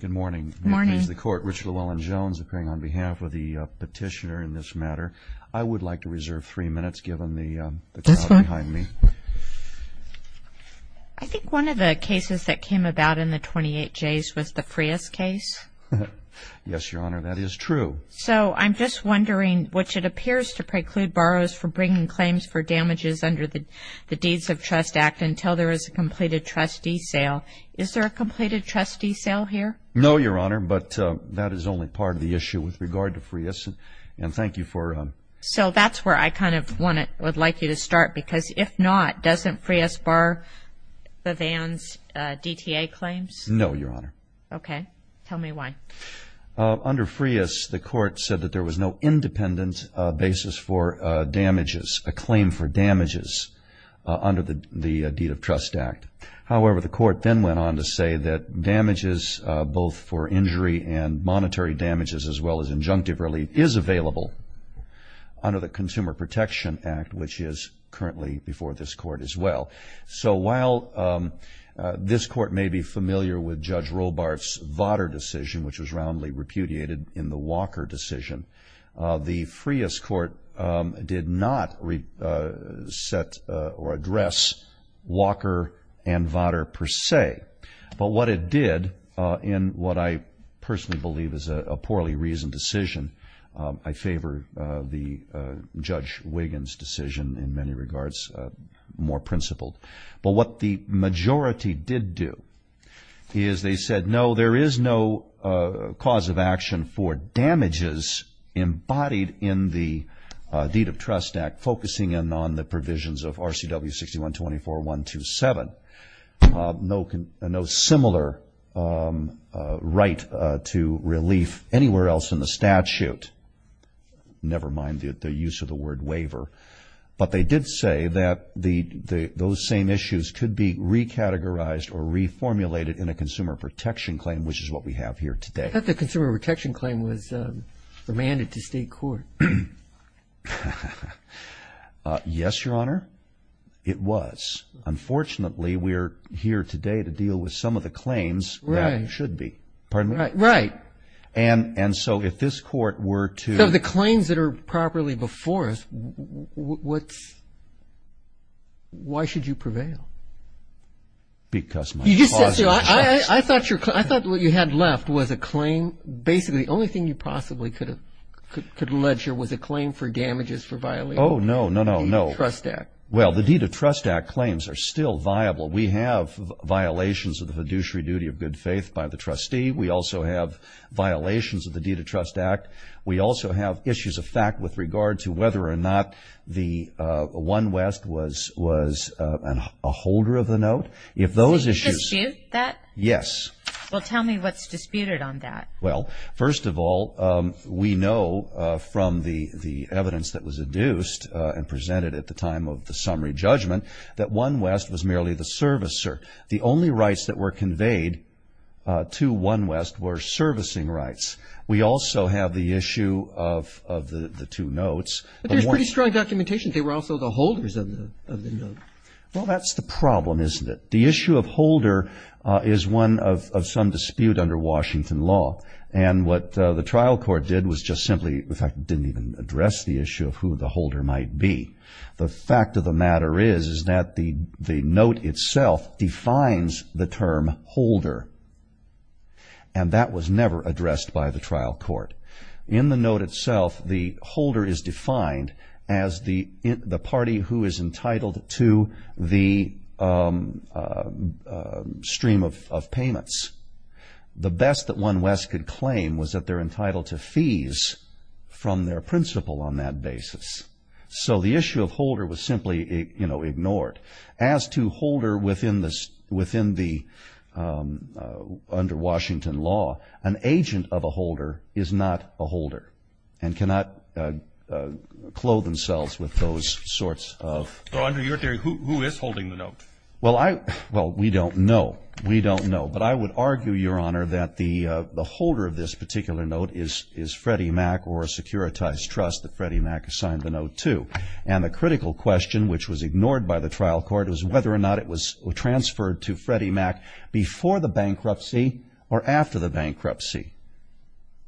Good morning. Good morning. This is the Court, Rich Llewellyn-Jones, appearing on behalf of the petitioner in this matter. I would like to reserve three minutes, given the crowd behind me. This one? I think one of the cases that came about in the 28Js was the Frias case. Yes, Your Honor, that is true. So I'm just wondering, which it appears to preclude borrowers from bringing claims for damages under the Deeds of Trust Act until there is a completed trustee sale. Is there a completed trustee sale here? No, Your Honor, but that is only part of the issue with regard to Frias. And thank you for ‑‑ So that's where I kind of would like you to start, because if not, doesn't Frias bar Bavand's DTA claims? No, Your Honor. Okay. Tell me why. Under Frias, the Court said that there was no independent basis for damages, a claim for damages under the Deed of Trust Act. However, the Court then went on to say that damages, both for injury and monetary damages as well as injunctive relief, is available under the Consumer Protection Act, which is currently before this Court as well. So while this Court may be familiar with Judge Robart's Votter decision, which was roundly repudiated in the Walker decision, the Frias Court did not set or address Walker and Votter per se. But what it did, in what I personally believe is a poorly reasoned decision, I favor Judge Wiggins' decision in many regards, more principled. But what the majority did do is they said, No, there is no cause of action for damages embodied in the Deed of Trust Act, focusing in on the provisions of RCW 6124.127. No similar right to relief anywhere else in the statute, never mind the use of the word waiver. But they did say that those same issues could be recategorized or reformulated in a Consumer Protection Claim, which is what we have here today. I thought the Consumer Protection Claim was remanded to State Court. Yes, Your Honor. It was. Unfortunately, we are here today to deal with some of the claims that should be. Pardon me? Right. And so if this Court were to Some of the claims that are properly before us, why should you prevail? Because my cause is trust. I thought what you had left was a claim. Basically, the only thing you possibly could allege here was a claim for damages for violating the Deed of Trust Act. Oh, no, no, no, no. Well, the Deed of Trust Act claims are still viable. We have violations of the fiduciary duty of good faith by the trustee. We also have violations of the Deed of Trust Act. We also have issues of fact with regard to whether or not the One West was a holder of the note. Did you dispute that? Yes. Well, tell me what's disputed on that. Well, first of all, we know from the evidence that was adduced and presented at the time of the summary judgment that One West was merely the servicer. The only rights that were conveyed to One West were servicing rights. We also have the issue of the two notes. But there's pretty strong documentation that they were also the holders of the note. Well, that's the problem, isn't it? The issue of holder is one of some dispute under Washington law, and what the trial court did was just simply, in fact, didn't even address the issue of who the holder might be. The fact of the matter is that the note itself defines the term holder, and that was never addressed by the trial court. In the note itself, the holder is defined as the party who is entitled to the stream of payments. The best that One West could claim was that they're entitled to fees from their principal on that basis. So the issue of holder was simply ignored. As to holder within the under Washington law, an agent of a holder is not a holder and cannot clothe themselves with those sorts of. So under your theory, who is holding the note? Well, we don't know. We don't know. But I would argue, Your Honor, that the holder of this particular note is Freddie Mac or a securitized trust that Freddie Mac assigned the note to. And the critical question, which was ignored by the trial court, was whether or not it was transferred to Freddie Mac before the bankruptcy or after the bankruptcy.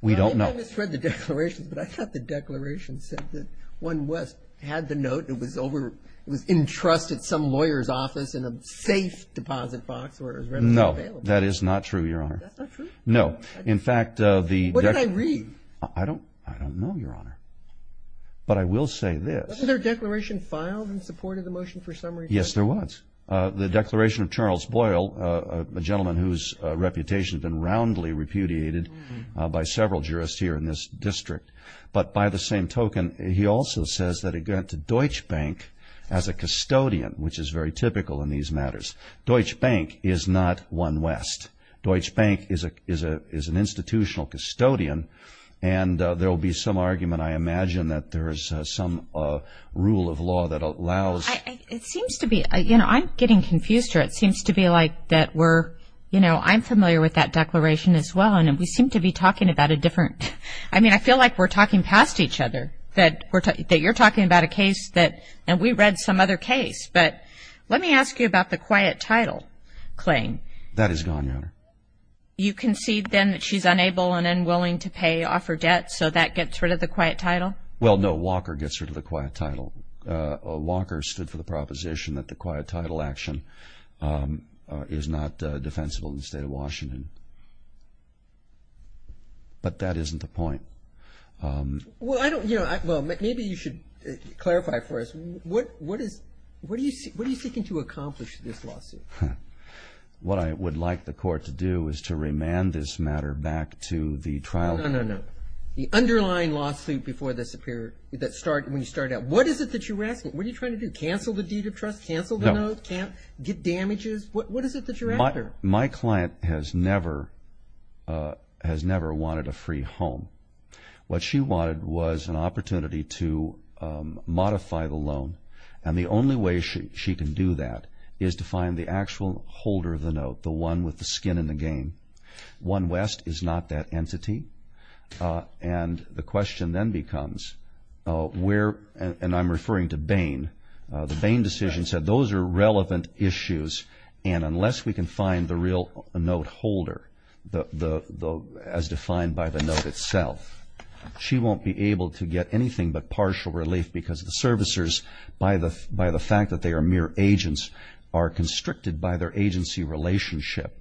We don't know. I misread the declaration, but I thought the declaration said that One West had the note. It was entrusted to some lawyer's office in a safe deposit box where it was readily available. No, that is not true, Your Honor. That's not true? No. What did I read? I don't know, Your Honor. But I will say this. Wasn't there a declaration filed in support of the motion for summary judgment? Yes, there was. The declaration of Charles Boyle, a gentleman whose reputation has been roundly repudiated by several jurists here in this district. But by the same token, he also says that it went to Deutsche Bank as a custodian, which is very typical in these matters. Deutsche Bank is not One West. Deutsche Bank is an institutional custodian. And there will be some argument, I imagine, that there is some rule of law that allows. It seems to be. You know, I'm getting confused here. It seems to be like that we're, you know, I'm familiar with that declaration as well, and we seem to be talking about a different. I mean, I feel like we're talking past each other, that you're talking about a case that, and we read some other case. But let me ask you about the quiet title claim. That is gone, Your Honor. You concede, then, that she's unable and unwilling to pay off her debt, so that gets rid of the quiet title? Well, no. Walker gets rid of the quiet title. Walker stood for the proposition that the quiet title action is not defensible in the State of Washington. But that isn't the point. Well, I don't, you know, well, maybe you should clarify for us. What is, what are you seeking to accomplish in this lawsuit? What I would like the court to do is to remand this matter back to the trial court. No, no, no. The underlying lawsuit before this appeared, when you started out, what is it that you're asking? What are you trying to do? Cancel the deed of trust? No. Cancel the note? Get damages? What is it that you're asking? What she wanted was an opportunity to modify the loan. And the only way she can do that is to find the actual holder of the note, the one with the skin in the game. One West is not that entity. And the question then becomes where, and I'm referring to Bain, the Bain decision said those are relevant issues, and unless we can find the real note holder, as defined by the note itself, she won't be able to get anything but partial relief because the servicers, by the fact that they are mere agents, are constricted by their agency relationship.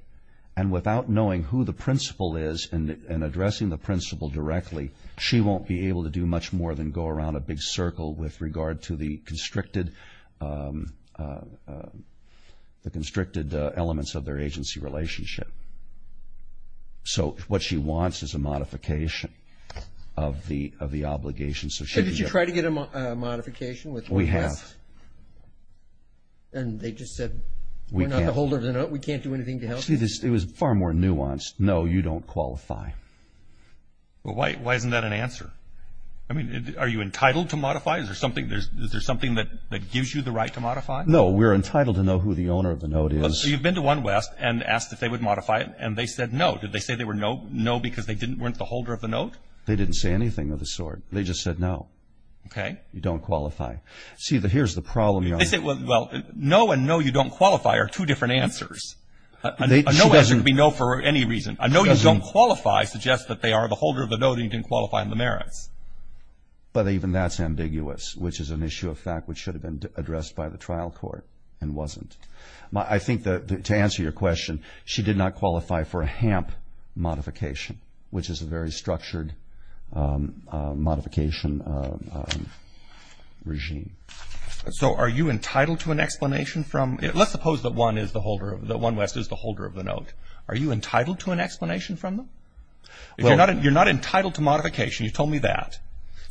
And without knowing who the principal is and addressing the principal directly, she won't be able to do much more than go around a big circle with regard to the constricted elements of their agency relationship. So what she wants is a modification of the obligation. So did you try to get a modification with One West? We have. And they just said we're not the holder of the note, we can't do anything to help you? See, it was far more nuanced. No, you don't qualify. Well, why isn't that an answer? I mean, are you entitled to modify? Is there something that gives you the right to modify? No, we're entitled to know who the owner of the note is. So you've been to One West and asked if they would modify it, and they said no. Did they say they were no because they weren't the holder of the note? They didn't say anything of the sort. They just said no. Okay. You don't qualify. See, here's the problem. Well, no and no, you don't qualify are two different answers. A no answer could be no for any reason. A no, you don't qualify suggests that they are the holder of the note and you didn't qualify on the merits. But even that's ambiguous, which is an issue of fact which should have been addressed by the trial court and wasn't. I think to answer your question, she did not qualify for a HAMP modification, which is a very structured modification regime. So are you entitled to an explanation from – let's suppose that One West is the holder of the note. Are you entitled to an explanation from them? You're not entitled to modification. You told me that.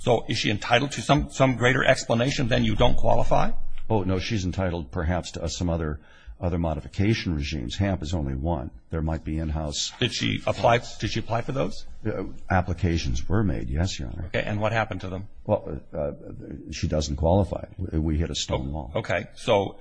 So is she entitled to some greater explanation than you don't qualify? Oh, no, she's entitled perhaps to some other modification regimes. HAMP is only one. There might be in-house. Did she apply for those? Applications were made, yes, Your Honor. Okay. And what happened to them? Well, she doesn't qualify. We hit a stone wall. Okay.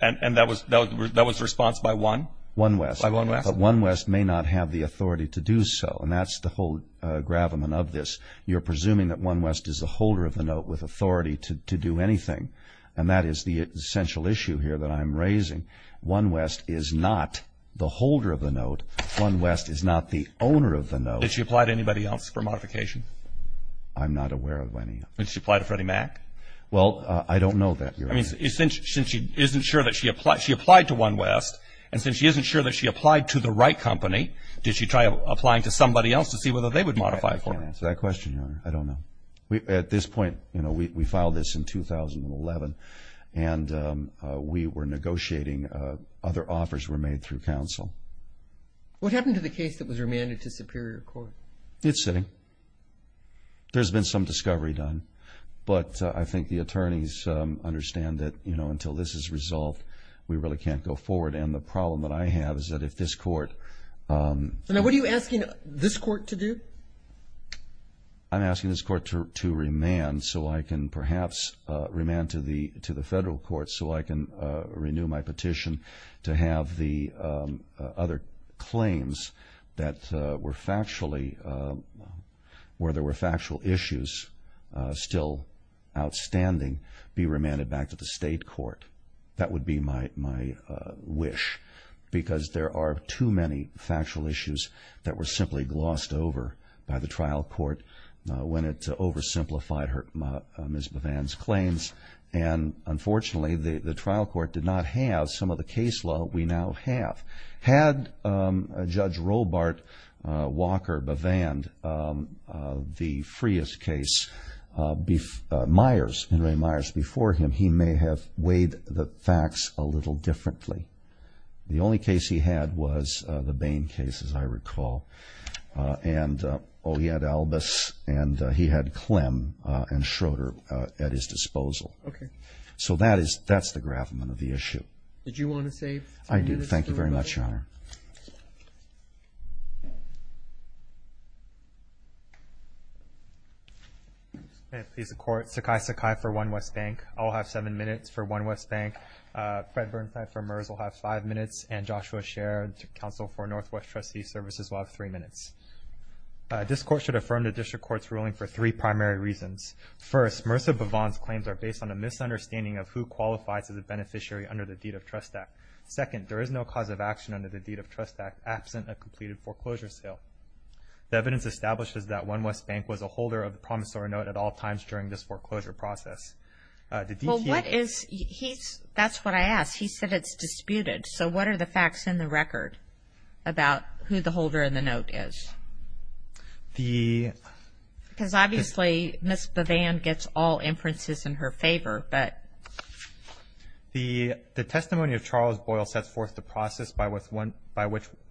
And that was the response by One? One West. By One West. But One West may not have the authority to do so, and that's the whole gravamen of this. You're presuming that One West is the holder of the note with authority to do anything, and that is the essential issue here that I'm raising. One West is not the holder of the note. One West is not the owner of the note. Did she apply to anybody else for modification? I'm not aware of any. Did she apply to Freddie Mac? Well, I don't know that, Your Honor. I mean, since she isn't sure that she applied – she applied to One West, and since she isn't sure that she applied to the right company, did she try applying to somebody else to see whether they would modify for her? I can't answer that question, Your Honor. I don't know. At this point, you know, we filed this in 2011, and we were negotiating. Other offers were made through counsel. What happened to the case that was remanded to Superior Court? It's sitting. There's been some discovery done. But I think the attorneys understand that, you know, until this is resolved, we really can't go forward. And the problem that I have is that if this court – So now what are you asking this court to do? I'm asking this court to remand so I can perhaps remand to the federal court so I can renew my petition to have the other claims that were factually – where there were factual issues still outstanding be remanded back to the state court. That would be my wish because there are too many factual issues that were simply glossed over by the trial court when it oversimplified Ms. Bivan's claims. And unfortunately, the trial court did not have some of the case law we now have. Had Judge Robart Walker Bivan, the Frias case, Myers, Henry Myers before him, he may have weighed the facts a little differently. The only case he had was the Bain case, as I recall, and he had Albus and he had Clem and Schroeder at his disposal. So that's the gravamen of the issue. Did you want to save ten minutes? I did. Thank you very much, Your Honor. May it please the Court. Sakai Sakai for One West Bank. I'll have seven minutes for One West Bank. Fred Berntheit for MERS will have five minutes. And Joshua Sher, counsel for Northwest Trustee Services, will have three minutes. This Court should affirm the District Court's ruling for three primary reasons. First, Marissa Bivan's claims are based on a misunderstanding of who qualifies as a beneficiary under the Deed of Trust Act. Second, there is no cause of action under the Deed of Trust Act absent a completed foreclosure sale. The evidence establishes that One West Bank was a holder of the promissory note at all times during this foreclosure process. Well, what is he's – that's what I asked. He said it's disputed. So what are the facts in the record about who the holder in the note is? Because obviously, Miss Bivan gets all inferences in her favor. The testimony of Charles Boyle sets forth the process by which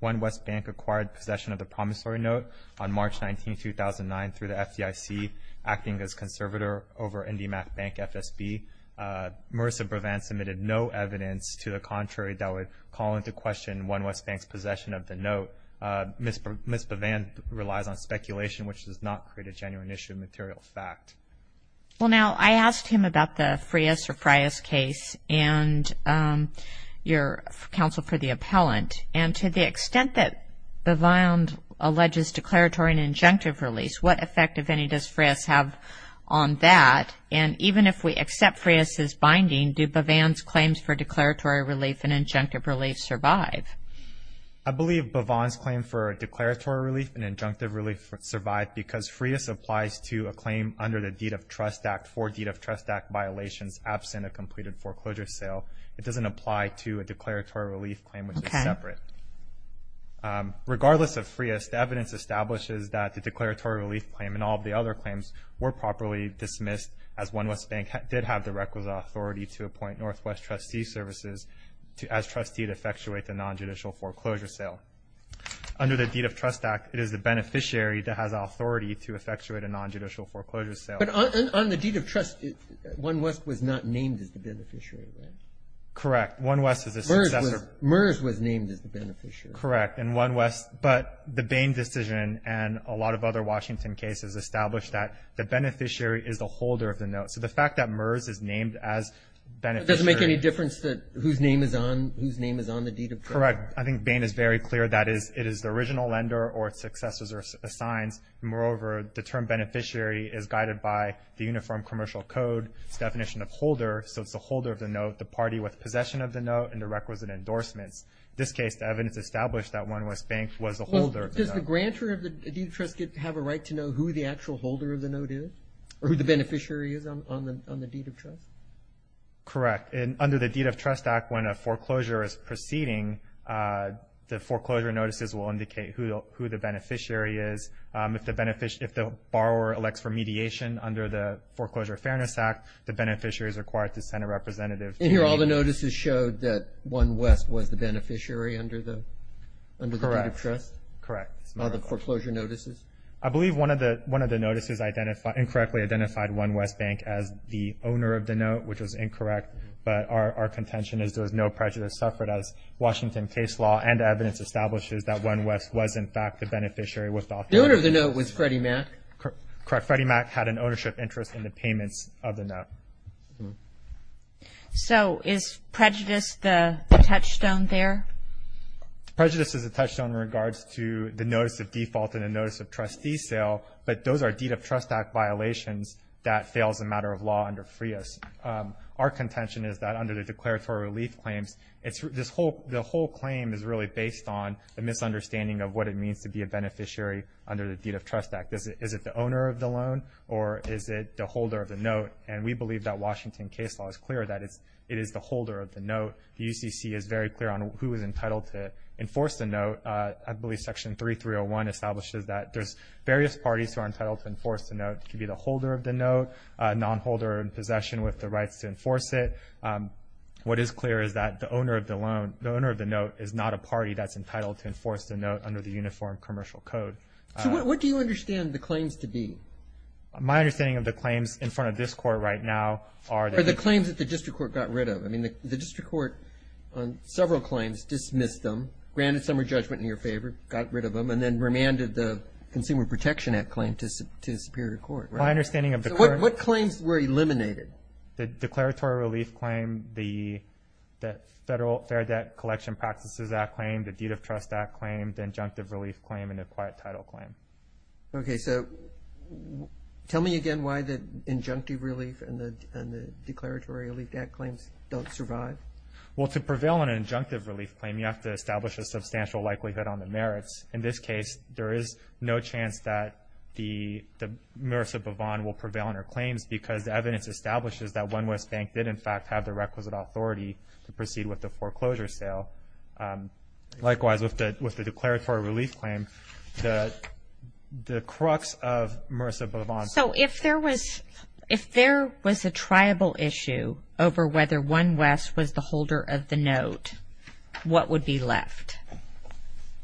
One West Bank acquired possession of the promissory note on March 19, 2009, through the FDIC acting as conservator over IndyMac Bank FSB. Marissa Bivan submitted no evidence to the contrary that would call into question One West Bank's possession of the note. Miss Bivan relies on speculation, which does not create a genuine issue of material fact. Well, now, I asked him about the Frias or Frias case and your counsel for the appellant, and to the extent that Bivan alleges declaratory and injunctive relief, what effect, if any, does Frias have on that? And even if we accept Frias' binding, do Bivan's claims for declaratory relief and injunctive relief survive? I believe Bivan's claim for declaratory relief and injunctive relief survived because Frias applies to a claim under the Deed of Trust Act for Deed of Trust Act violations absent a completed foreclosure sale. It doesn't apply to a declaratory relief claim, which is separate. Regardless of Frias, the evidence establishes that the declaratory relief claim and all of the other claims were properly dismissed, as One West Bank did have the requisite authority to appoint Northwest Trustee Services as trustees to effectuate the nonjudicial foreclosure sale. Under the Deed of Trust Act, it is the beneficiary that has authority to effectuate a nonjudicial foreclosure sale. But on the Deed of Trust, One West was not named as the beneficiary, right? Correct. One West is a successor. MERS was named as the beneficiary. Correct. And One West – but the Bain decision and a lot of other Washington cases established that the beneficiary is the holder of the note. So the fact that MERS is named as beneficiary – Does it make any difference whose name is on the Deed of Trust? Correct. I think Bain is very clear that it is the original lender or its successors or assigns. Moreover, the term beneficiary is guided by the Uniform Commercial Code's definition of holder, so it's the holder of the note, the party with possession of the note, and the requisite endorsements. In this case, the evidence established that One West Bank was the holder of the note. Does the grantor of the Deed of Trust have a right to know who the actual holder of the note is or who the beneficiary is on the Deed of Trust? Correct. Under the Deed of Trust Act, when a foreclosure is proceeding, the foreclosure notices will indicate who the beneficiary is. If the borrower elects for mediation under the Foreclosure Fairness Act, the beneficiary is required to send a representative. And here all the notices showed that One West was the beneficiary under the Deed of Trust? Correct. All the foreclosure notices? I believe one of the notices incorrectly identified One West Bank as the owner of the note, which was incorrect. But our contention is there was no prejudice suffered as Washington case law and evidence establishes that One West was, in fact, the beneficiary with the authority. The owner of the note was Freddie Mac? Correct. Freddie Mac had an ownership interest in the payments of the note. So is prejudice the touchstone there? Prejudice is a touchstone in regards to the notice of default and the notice of trustee sale, but those are Deed of Trust Act violations that fails the matter of law under FREOS. Our contention is that under the declaratory relief claims, the whole claim is really based on a misunderstanding of what it means to be a beneficiary under the Deed of Trust Act. Is it the owner of the loan or is it the holder of the note? And we believe that Washington case law is clear that it is the holder of the note. The UCC is very clear on who is entitled to enforce the note. I believe Section 3301 establishes that there's various parties who are entitled to enforce the note. It could be the holder of the note, a nonholder in possession with the rights to enforce it. What is clear is that the owner of the loan, the owner of the note, is not a party that's entitled to enforce the note under the Uniform Commercial Code. So what do you understand the claims to be? My understanding of the claims in front of this Court right now are the claims that the district court got rid of. I mean, the district court on several claims dismissed them, granted some re-judgment in your favor, got rid of them, and then remanded the Consumer Protection Act claim to Superior Court, right? My understanding of the current. So what claims were eliminated? The declaratory relief claim, the Federal Fair Debt Collection Practices Act claim, the Deed of Trust Act claim, the injunctive relief claim, and the quiet title claim. Okay, so tell me again why the injunctive relief and the declaratory relief Act claims don't survive. Well, to prevail on an injunctive relief claim, you have to establish a substantial likelihood on the merits. In this case, there is no chance that Marissa Bavon will prevail on her claims because the evidence establishes that One West Bank did, in fact, have the requisite authority to proceed with the foreclosure sale. Likewise, with the declaratory relief claim, the crux of Marissa Bavon's claim. So if there was a triable issue over whether One West was the holder of the note, what would be left?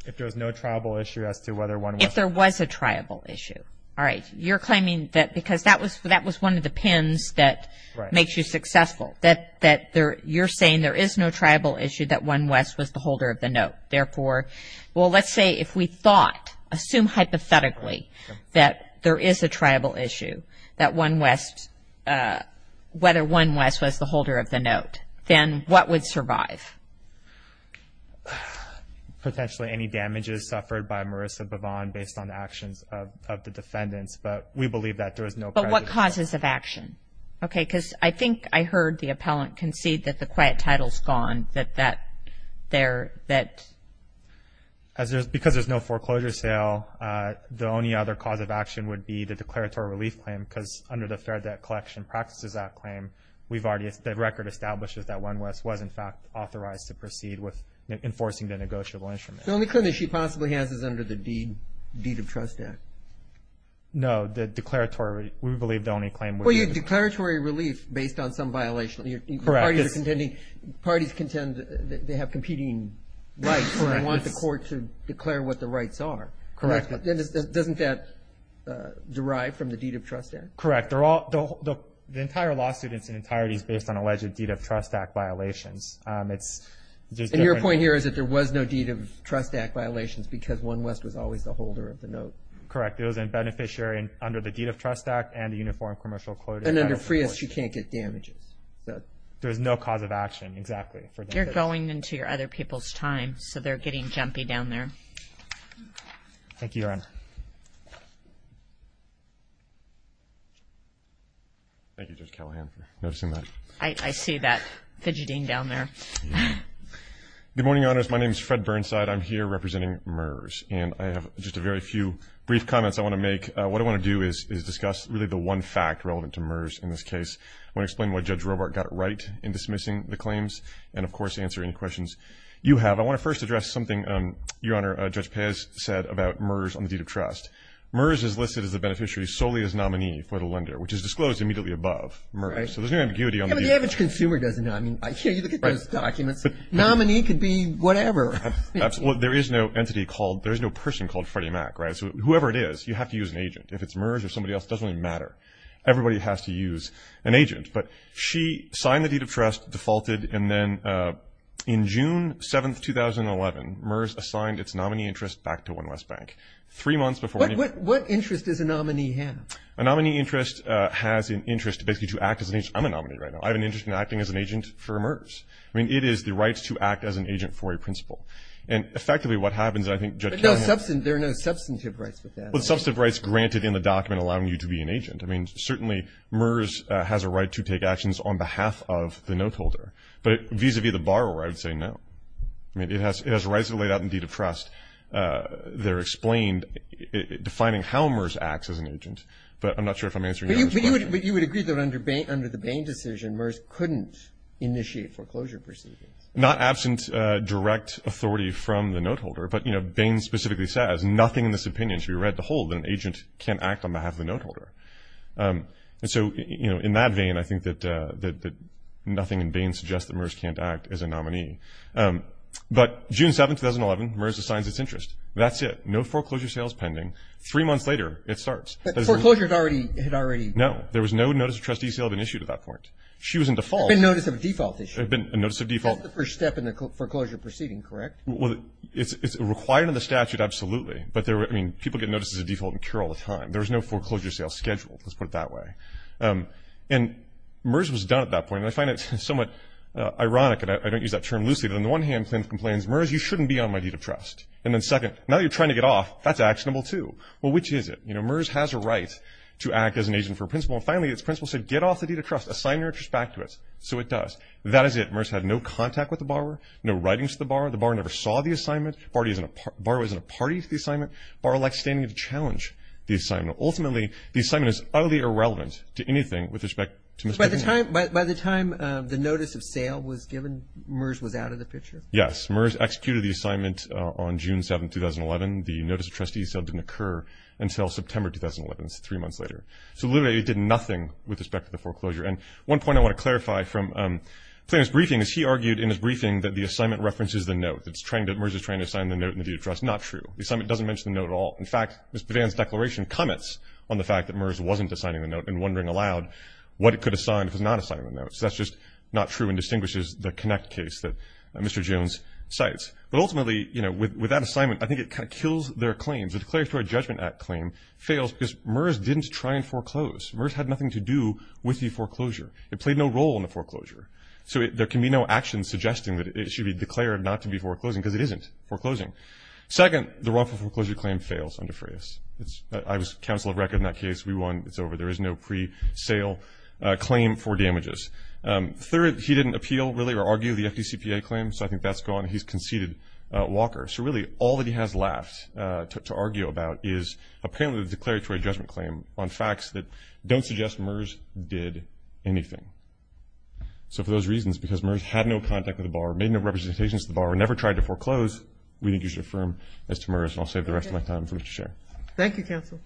If there was no triable issue as to whether One West was the holder of the note. If there was a triable issue. All right, you're claiming that because that was one of the pins that makes you successful, that you're saying there is no triable issue that One West was the holder of the note. Therefore, well, let's say if we thought, assume hypothetically, that there is a triable issue that One West, whether One West was the holder of the note, then what would survive? Potentially any damages suffered by Marissa Bavon based on actions of the defendants, but we believe that there was no prejudice. But what causes of action? Okay, because I think I heard the appellant concede that the quiet title is gone, that there, that. Because there's no foreclosure sale, the only other cause of action would be the declaratory relief claim because under the Fair Debt Collection Practices Act claim, the record establishes that One West was, in fact, authorized to proceed with enforcing the negotiable instrument. The only claim that she possibly has is under the Deed of Trust Act. No, the declaratory, we believe the only claim would be. Well, you have declaratory relief based on some violation. Correct. Parties contend that they have competing rights and want the court to declare what the rights are. Correct. Doesn't that derive from the Deed of Trust Act? Correct. The entire lawsuit in its entirety is based on alleged Deed of Trust Act violations. And your point here is that there was no Deed of Trust Act violations because One West was always the holder of the note. Correct. It was a beneficiary under the Deed of Trust Act and the Uniform Commercial Closure. And under FRIAS, she can't get damages. There is no cause of action, exactly. You're going into your other people's time, so they're getting jumpy down there. Thank you, Your Honor. Thank you, Judge Callahan, for noticing that. I see that fidgeting down there. Good morning, Your Honors. My name is Fred Burnside. I'm here representing MERS, and I have just a very few brief comments I want to make. What I want to do is discuss really the one fact relevant to MERS in this case. I want to explain why Judge Robart got it right in dismissing the claims and, of course, answer any questions you have. I want to first address something, Your Honor, Judge Pez said about MERS on the Deed of Trust. MERS is listed as a beneficiary solely as nominee for the lender, which is disclosed immediately above MERS. So there's no ambiguity on the… Yeah, but the average consumer doesn't know. I mean, you look at those documents. Nominee could be whatever. Absolutely. There is no entity called – there is no person called Freddie Mac, right? So whoever it is, you have to use an agent. If it's MERS or somebody else, it doesn't really matter. Everybody has to use. An agent. But she signed the Deed of Trust, defaulted, and then in June 7, 2011, MERS assigned its nominee interest back to One West Bank. Three months before… What interest does a nominee have? A nominee interest has an interest basically to act as an agent. I'm a nominee right now. I have an interest in acting as an agent for MERS. I mean, it is the right to act as an agent for a principal. And effectively what happens, I think Judge Kavanaugh… But there are no substantive rights with that. There are no substantive rights granted in the document allowing you to be an agent. I mean, certainly MERS has a right to take actions on behalf of the note holder. But vis-à-vis the borrower, I would say no. I mean, it has rights laid out in the Deed of Trust. They're explained defining how MERS acts as an agent. But I'm not sure if I'm answering your question. But you would agree that under the Bain decision, MERS couldn't initiate foreclosure proceedings. Not absent direct authority from the note holder. But, you know, Bain specifically says, there's nothing in this opinion to be read to hold that an agent can't act on behalf of the note holder. And so, you know, in that vein, I think that nothing in Bain suggests that MERS can't act as a nominee. But June 7, 2011, MERS assigns its interest. That's it. No foreclosure sales pending. Three months later, it starts. But foreclosure had already… No. There was no notice of trustee sale been issued at that point. She was in default. There had been notice of default issue. There had been a notice of default. That's the first step in the foreclosure proceeding, correct? Well, it's required in the statute, absolutely. But, I mean, people get noticed as a default and cure all the time. There was no foreclosure sale scheduled. Let's put it that way. And MERS was done at that point. And I find it somewhat ironic, and I don't use that term loosely, but on the one hand, the plaintiff complains, MERS, you shouldn't be on my deed of trust. And then second, now you're trying to get off. That's actionable, too. Well, which is it? You know, MERS has a right to act as an agent for a principal. And finally, its principal said, get off the deed of trust. Assign your interest back to us. So it does. That is it. MERS had no contact with the borrower. No writings to the borrower. The borrower never saw the assignment. The borrower isn't a party to the assignment. The borrower likes standing up to challenge the assignment. Ultimately, the assignment is utterly irrelevant to anything with respect to Mr. Boone. By the time the notice of sale was given, MERS was out of the picture? Yes. MERS executed the assignment on June 7, 2011. The notice of trustee sale didn't occur until September 2011. That's three months later. So literally, it did nothing with respect to the foreclosure. And one point I want to clarify from the plaintiff's briefing is he argued in his briefing that the assignment references the note, that MERS is trying to assign the note in the deed of trust. Not true. The assignment doesn't mention the note at all. In fact, Ms. Bivan's declaration comments on the fact that MERS wasn't assigning the note and wondering aloud what it could assign if it was not assigning the note. So that's just not true and distinguishes the connect case that Mr. Jones cites. But ultimately, you know, with that assignment, I think it kind of kills their claims. The Declaratory Judgment Act claim fails because MERS didn't try and foreclose. MERS had nothing to do with the foreclosure. It played no role in the foreclosure. So there can be no action suggesting that it should be declared not to be foreclosing because it isn't foreclosing. Second, the wrongful foreclosure claim fails under FRAIS. I was counsel of record in that case. We won. It's over. There is no pre-sale claim for damages. Third, he didn't appeal, really, or argue the FDCPA claim, so I think that's gone. He's conceded Walker. So really, all that he has left to argue about is apparently the declaratory judgment claim on facts that don't suggest MERS did anything. So for those reasons, because MERS had no contact with the borrower, made no representations to the borrower, never tried to foreclose, we think you should affirm as to MERS. And I'll save the rest of my time for Mr. Sher. Thank you, counsel.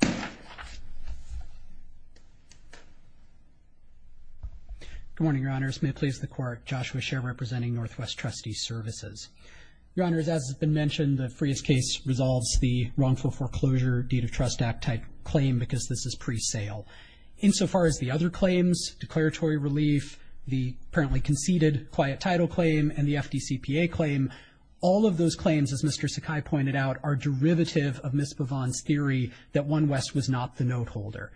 Good morning, Your Honors. May it please the Court, Joshua Sher representing Northwest Trustee Services. Your Honors, as has been mentioned, the FRAIS case resolves the wrongful foreclosure, Deed of Trust Act-type claim because this is pre-sale. Insofar as the other claims, declaratory relief, the apparently conceded quiet title claim, and the FDCPA claim, all of those claims, as Mr. Sakai pointed out, are derivative of Ms. Bavand's theory that One West was not the note holder.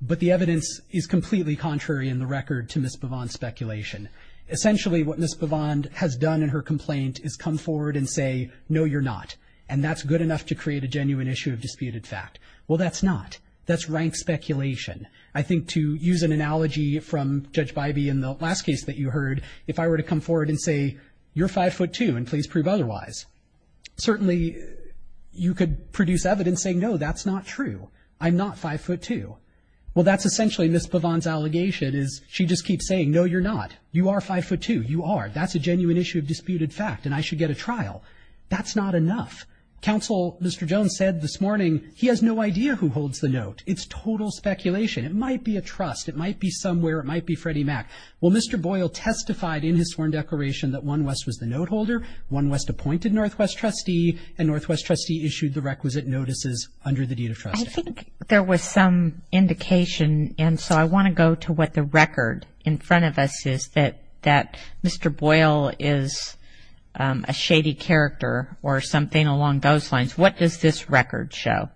But the evidence is completely contrary in the record to Ms. Bavand's speculation. Essentially, what Ms. Bavand has done in her complaint is come forward and say, no, you're not. And that's good enough to create a genuine issue of disputed fact. Well, that's not. That's rank speculation. I think to use an analogy from Judge Bybee in the last case that you heard, if I were to come forward and say, you're 5'2", and please prove otherwise, certainly you could produce evidence saying, no, that's not true. I'm not 5'2". Well, that's essentially Ms. Bavand's allegation is she just keeps saying, no, you're not. You are 5'2". You are. That's a genuine issue of disputed fact, and I should get a trial. That's not enough. Counsel Mr. Jones said this morning he has no idea who holds the note. It's total speculation. It might be a trust. It might be somewhere. It might be Freddie Mac. Well, Mr. Boyle testified in his sworn declaration that One West was the note holder, One West appointed Northwest trustee, and Northwest trustee issued the requisite notices under the deed of trust. I think there was some indication, and so I want to go to what the record in front of us is that Mr. Boyle is a shady character or something along those lines. What does this record show?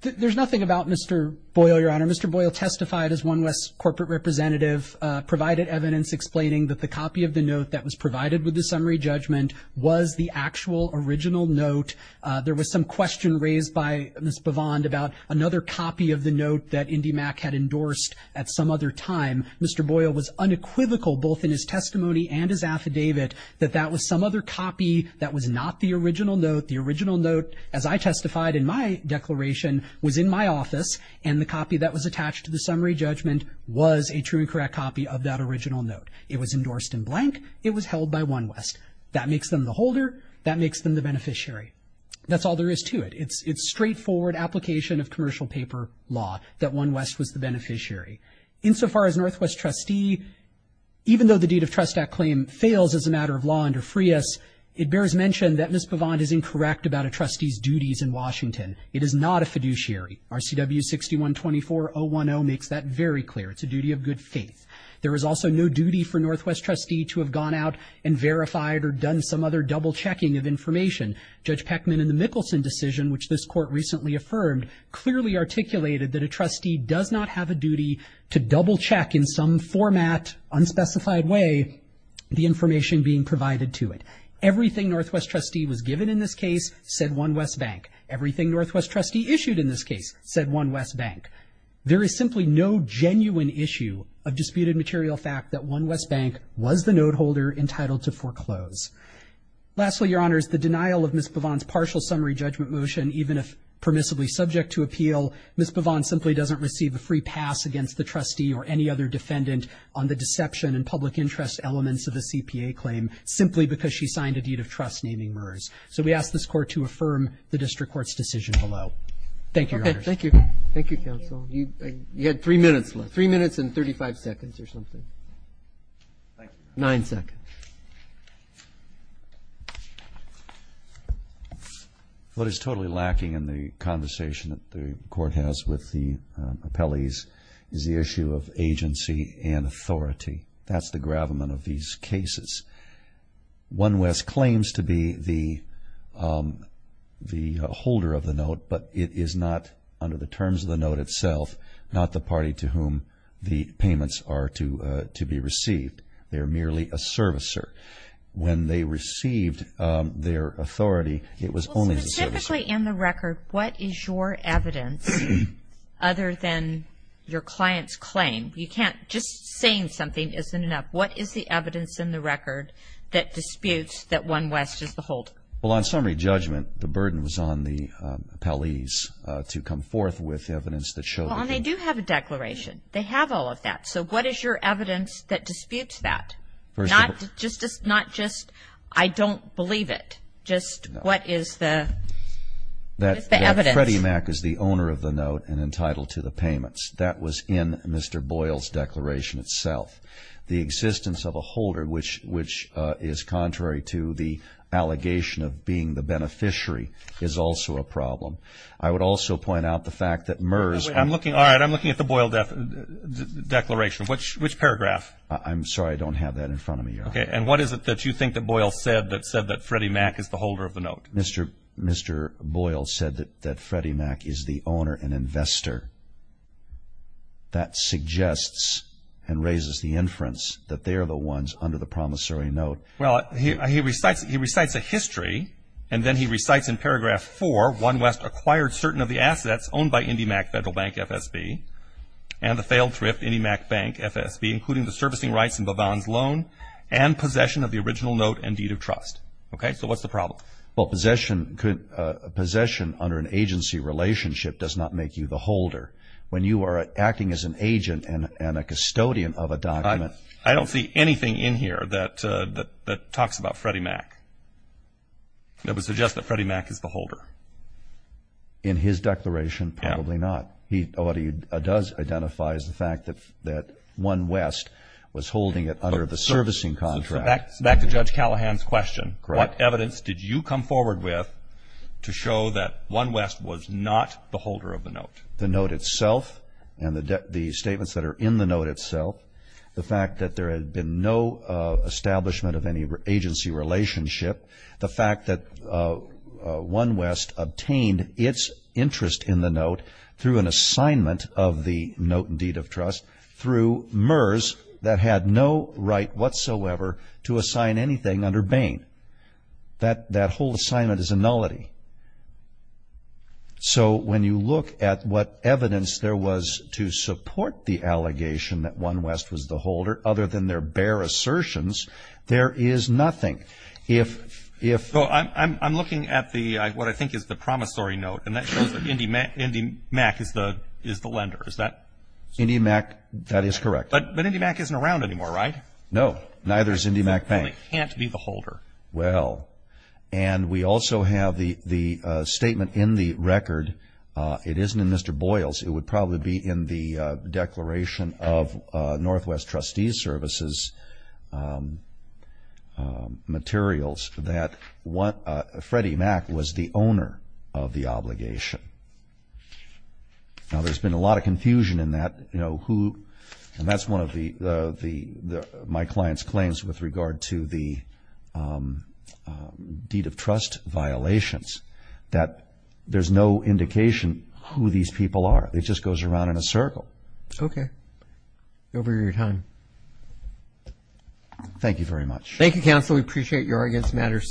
There's nothing about Mr. Boyle, Your Honor. Mr. Boyle testified as One West's corporate representative, provided evidence explaining that the copy of the note that was provided with the summary judgment was the actual original note. There was some question raised by Ms. Bavand about another copy of the note that Indy Mac had endorsed at some other time. Mr. Boyle was unequivocal, both in his testimony and his affidavit, that that was some other copy that was not the original note. The original note, as I testified in my declaration, was in my office, and the copy that was attached to the summary judgment was a true and correct copy of that original note. It was endorsed in blank. It was held by One West. That makes them the holder. That makes them the beneficiary. That's all there is to it. It's straightforward application of commercial paper law that One West was the beneficiary. Insofar as Northwest Trustee, even though the Deed of Trust Act claim fails as a matter of law under FRIAS, it bears mention that Ms. Bavand is incorrect about a trustee's duties in Washington. It is not a fiduciary. RCW 6124010 makes that very clear. It's a duty of good faith. There is also no duty for Northwest Trustee to have gone out and verified or done some other double-checking of information. Judge Peckman in the Mickelson decision, which this court recently affirmed, clearly articulated that a trustee does not have a duty to double-check in some format, unspecified way, the information being provided to it. Everything Northwest Trustee was given in this case said One West Bank. Everything Northwest Trustee issued in this case said One West Bank. There is simply no genuine issue of disputed material fact that One West Bank was the noteholder entitled to foreclose. Lastly, Your Honors, the denial of Ms. Bavand's partial summary judgment motion, even if permissibly subject to appeal, Ms. Bavand simply doesn't receive a free pass against the trustee or any other defendant on the deception and public interest elements of the CPA claim, simply because she signed a deed of trust naming MERS. So we ask this court to affirm the district court's decision below. Thank you, Your Honors. Thank you. Thank you, counsel. You had three minutes left. Three minutes and 35 seconds or something. Nine seconds. What is totally lacking in the conversation that the court has with the appellees is the issue of agency and authority. That's the gravamen of these cases. One West claims to be the holder of the note, but it is not under the terms of the note itself, not the party to whom the payments are to be received. They are merely a servicer. When they received their authority, it was only the servicer. Specifically in the record, what is your evidence other than your client's claim? Just saying something isn't enough. What is the evidence in the record that disputes that one West is the holder? Well, on summary judgment, the burden was on the appellees to come forth with evidence that showed that he was. Well, and they do have a declaration. They have all of that. So what is your evidence that disputes that? Not just, I don't believe it. Just what is the evidence? That Freddie Mac is the owner of the note and entitled to the payments. That was in Mr. Boyle's declaration itself. The existence of a holder, which is contrary to the allegation of being the beneficiary, is also a problem. I would also point out the fact that MERS. All right, I'm looking at the Boyle declaration. Which paragraph? I'm sorry, I don't have that in front of me. Okay, and what is it that you think that Boyle said that said that Freddie Mac is the holder of the note? Mr. Boyle said that Freddie Mac is the owner and investor. That suggests and raises the inference that they are the ones under the promissory note. Well, he recites a history, and then he recites in paragraph 4, One West acquired certain of the assets owned by IndyMac Federal Bank FSB and the failed thrift IndyMac Bank FSB, including the servicing rights and Bavon's loan and possession of the original note and deed of trust. Okay, so what's the problem? Well, possession under an agency relationship does not make you the holder. When you are acting as an agent and a custodian of a document. I don't see anything in here that talks about Freddie Mac that would suggest that Freddie Mac is the holder. In his declaration, probably not. What he does identify is the fact that One West was holding it under the servicing contract. Back to Judge Callahan's question. What evidence did you come forward with to show that One West was not the holder of the note? The note itself and the statements that are in the note itself, the fact that there had been no establishment of any agency relationship, the fact that One West obtained its interest in the note through an assignment of the note and deed of trust through MERS that had no right whatsoever to assign anything under Bain. That whole assignment is a nullity. So when you look at what evidence there was to support the allegation that One West was the holder, other than their bare assertions, there is nothing. I'm looking at what I think is the promissory note, and that shows that IndyMac is the lender. Is that? IndyMac, that is correct. But IndyMac isn't around anymore, right? No, neither is IndyMac Bank. It can't be the holder. Well, and we also have the statement in the record. It isn't in Mr. Boyle's. It would probably be in the declaration of Northwest Trustees Services materials that Freddie Mac was the owner of the obligation. Now, there's been a lot of confusion in that, you know, who, and that's one of my client's claims with regard to the deed of trust violations, that there's no indication who these people are. It just goes around in a circle. Okay. Over your time. Thank you very much. Thank you, counsel. We appreciate your arguments. This matter is submitted.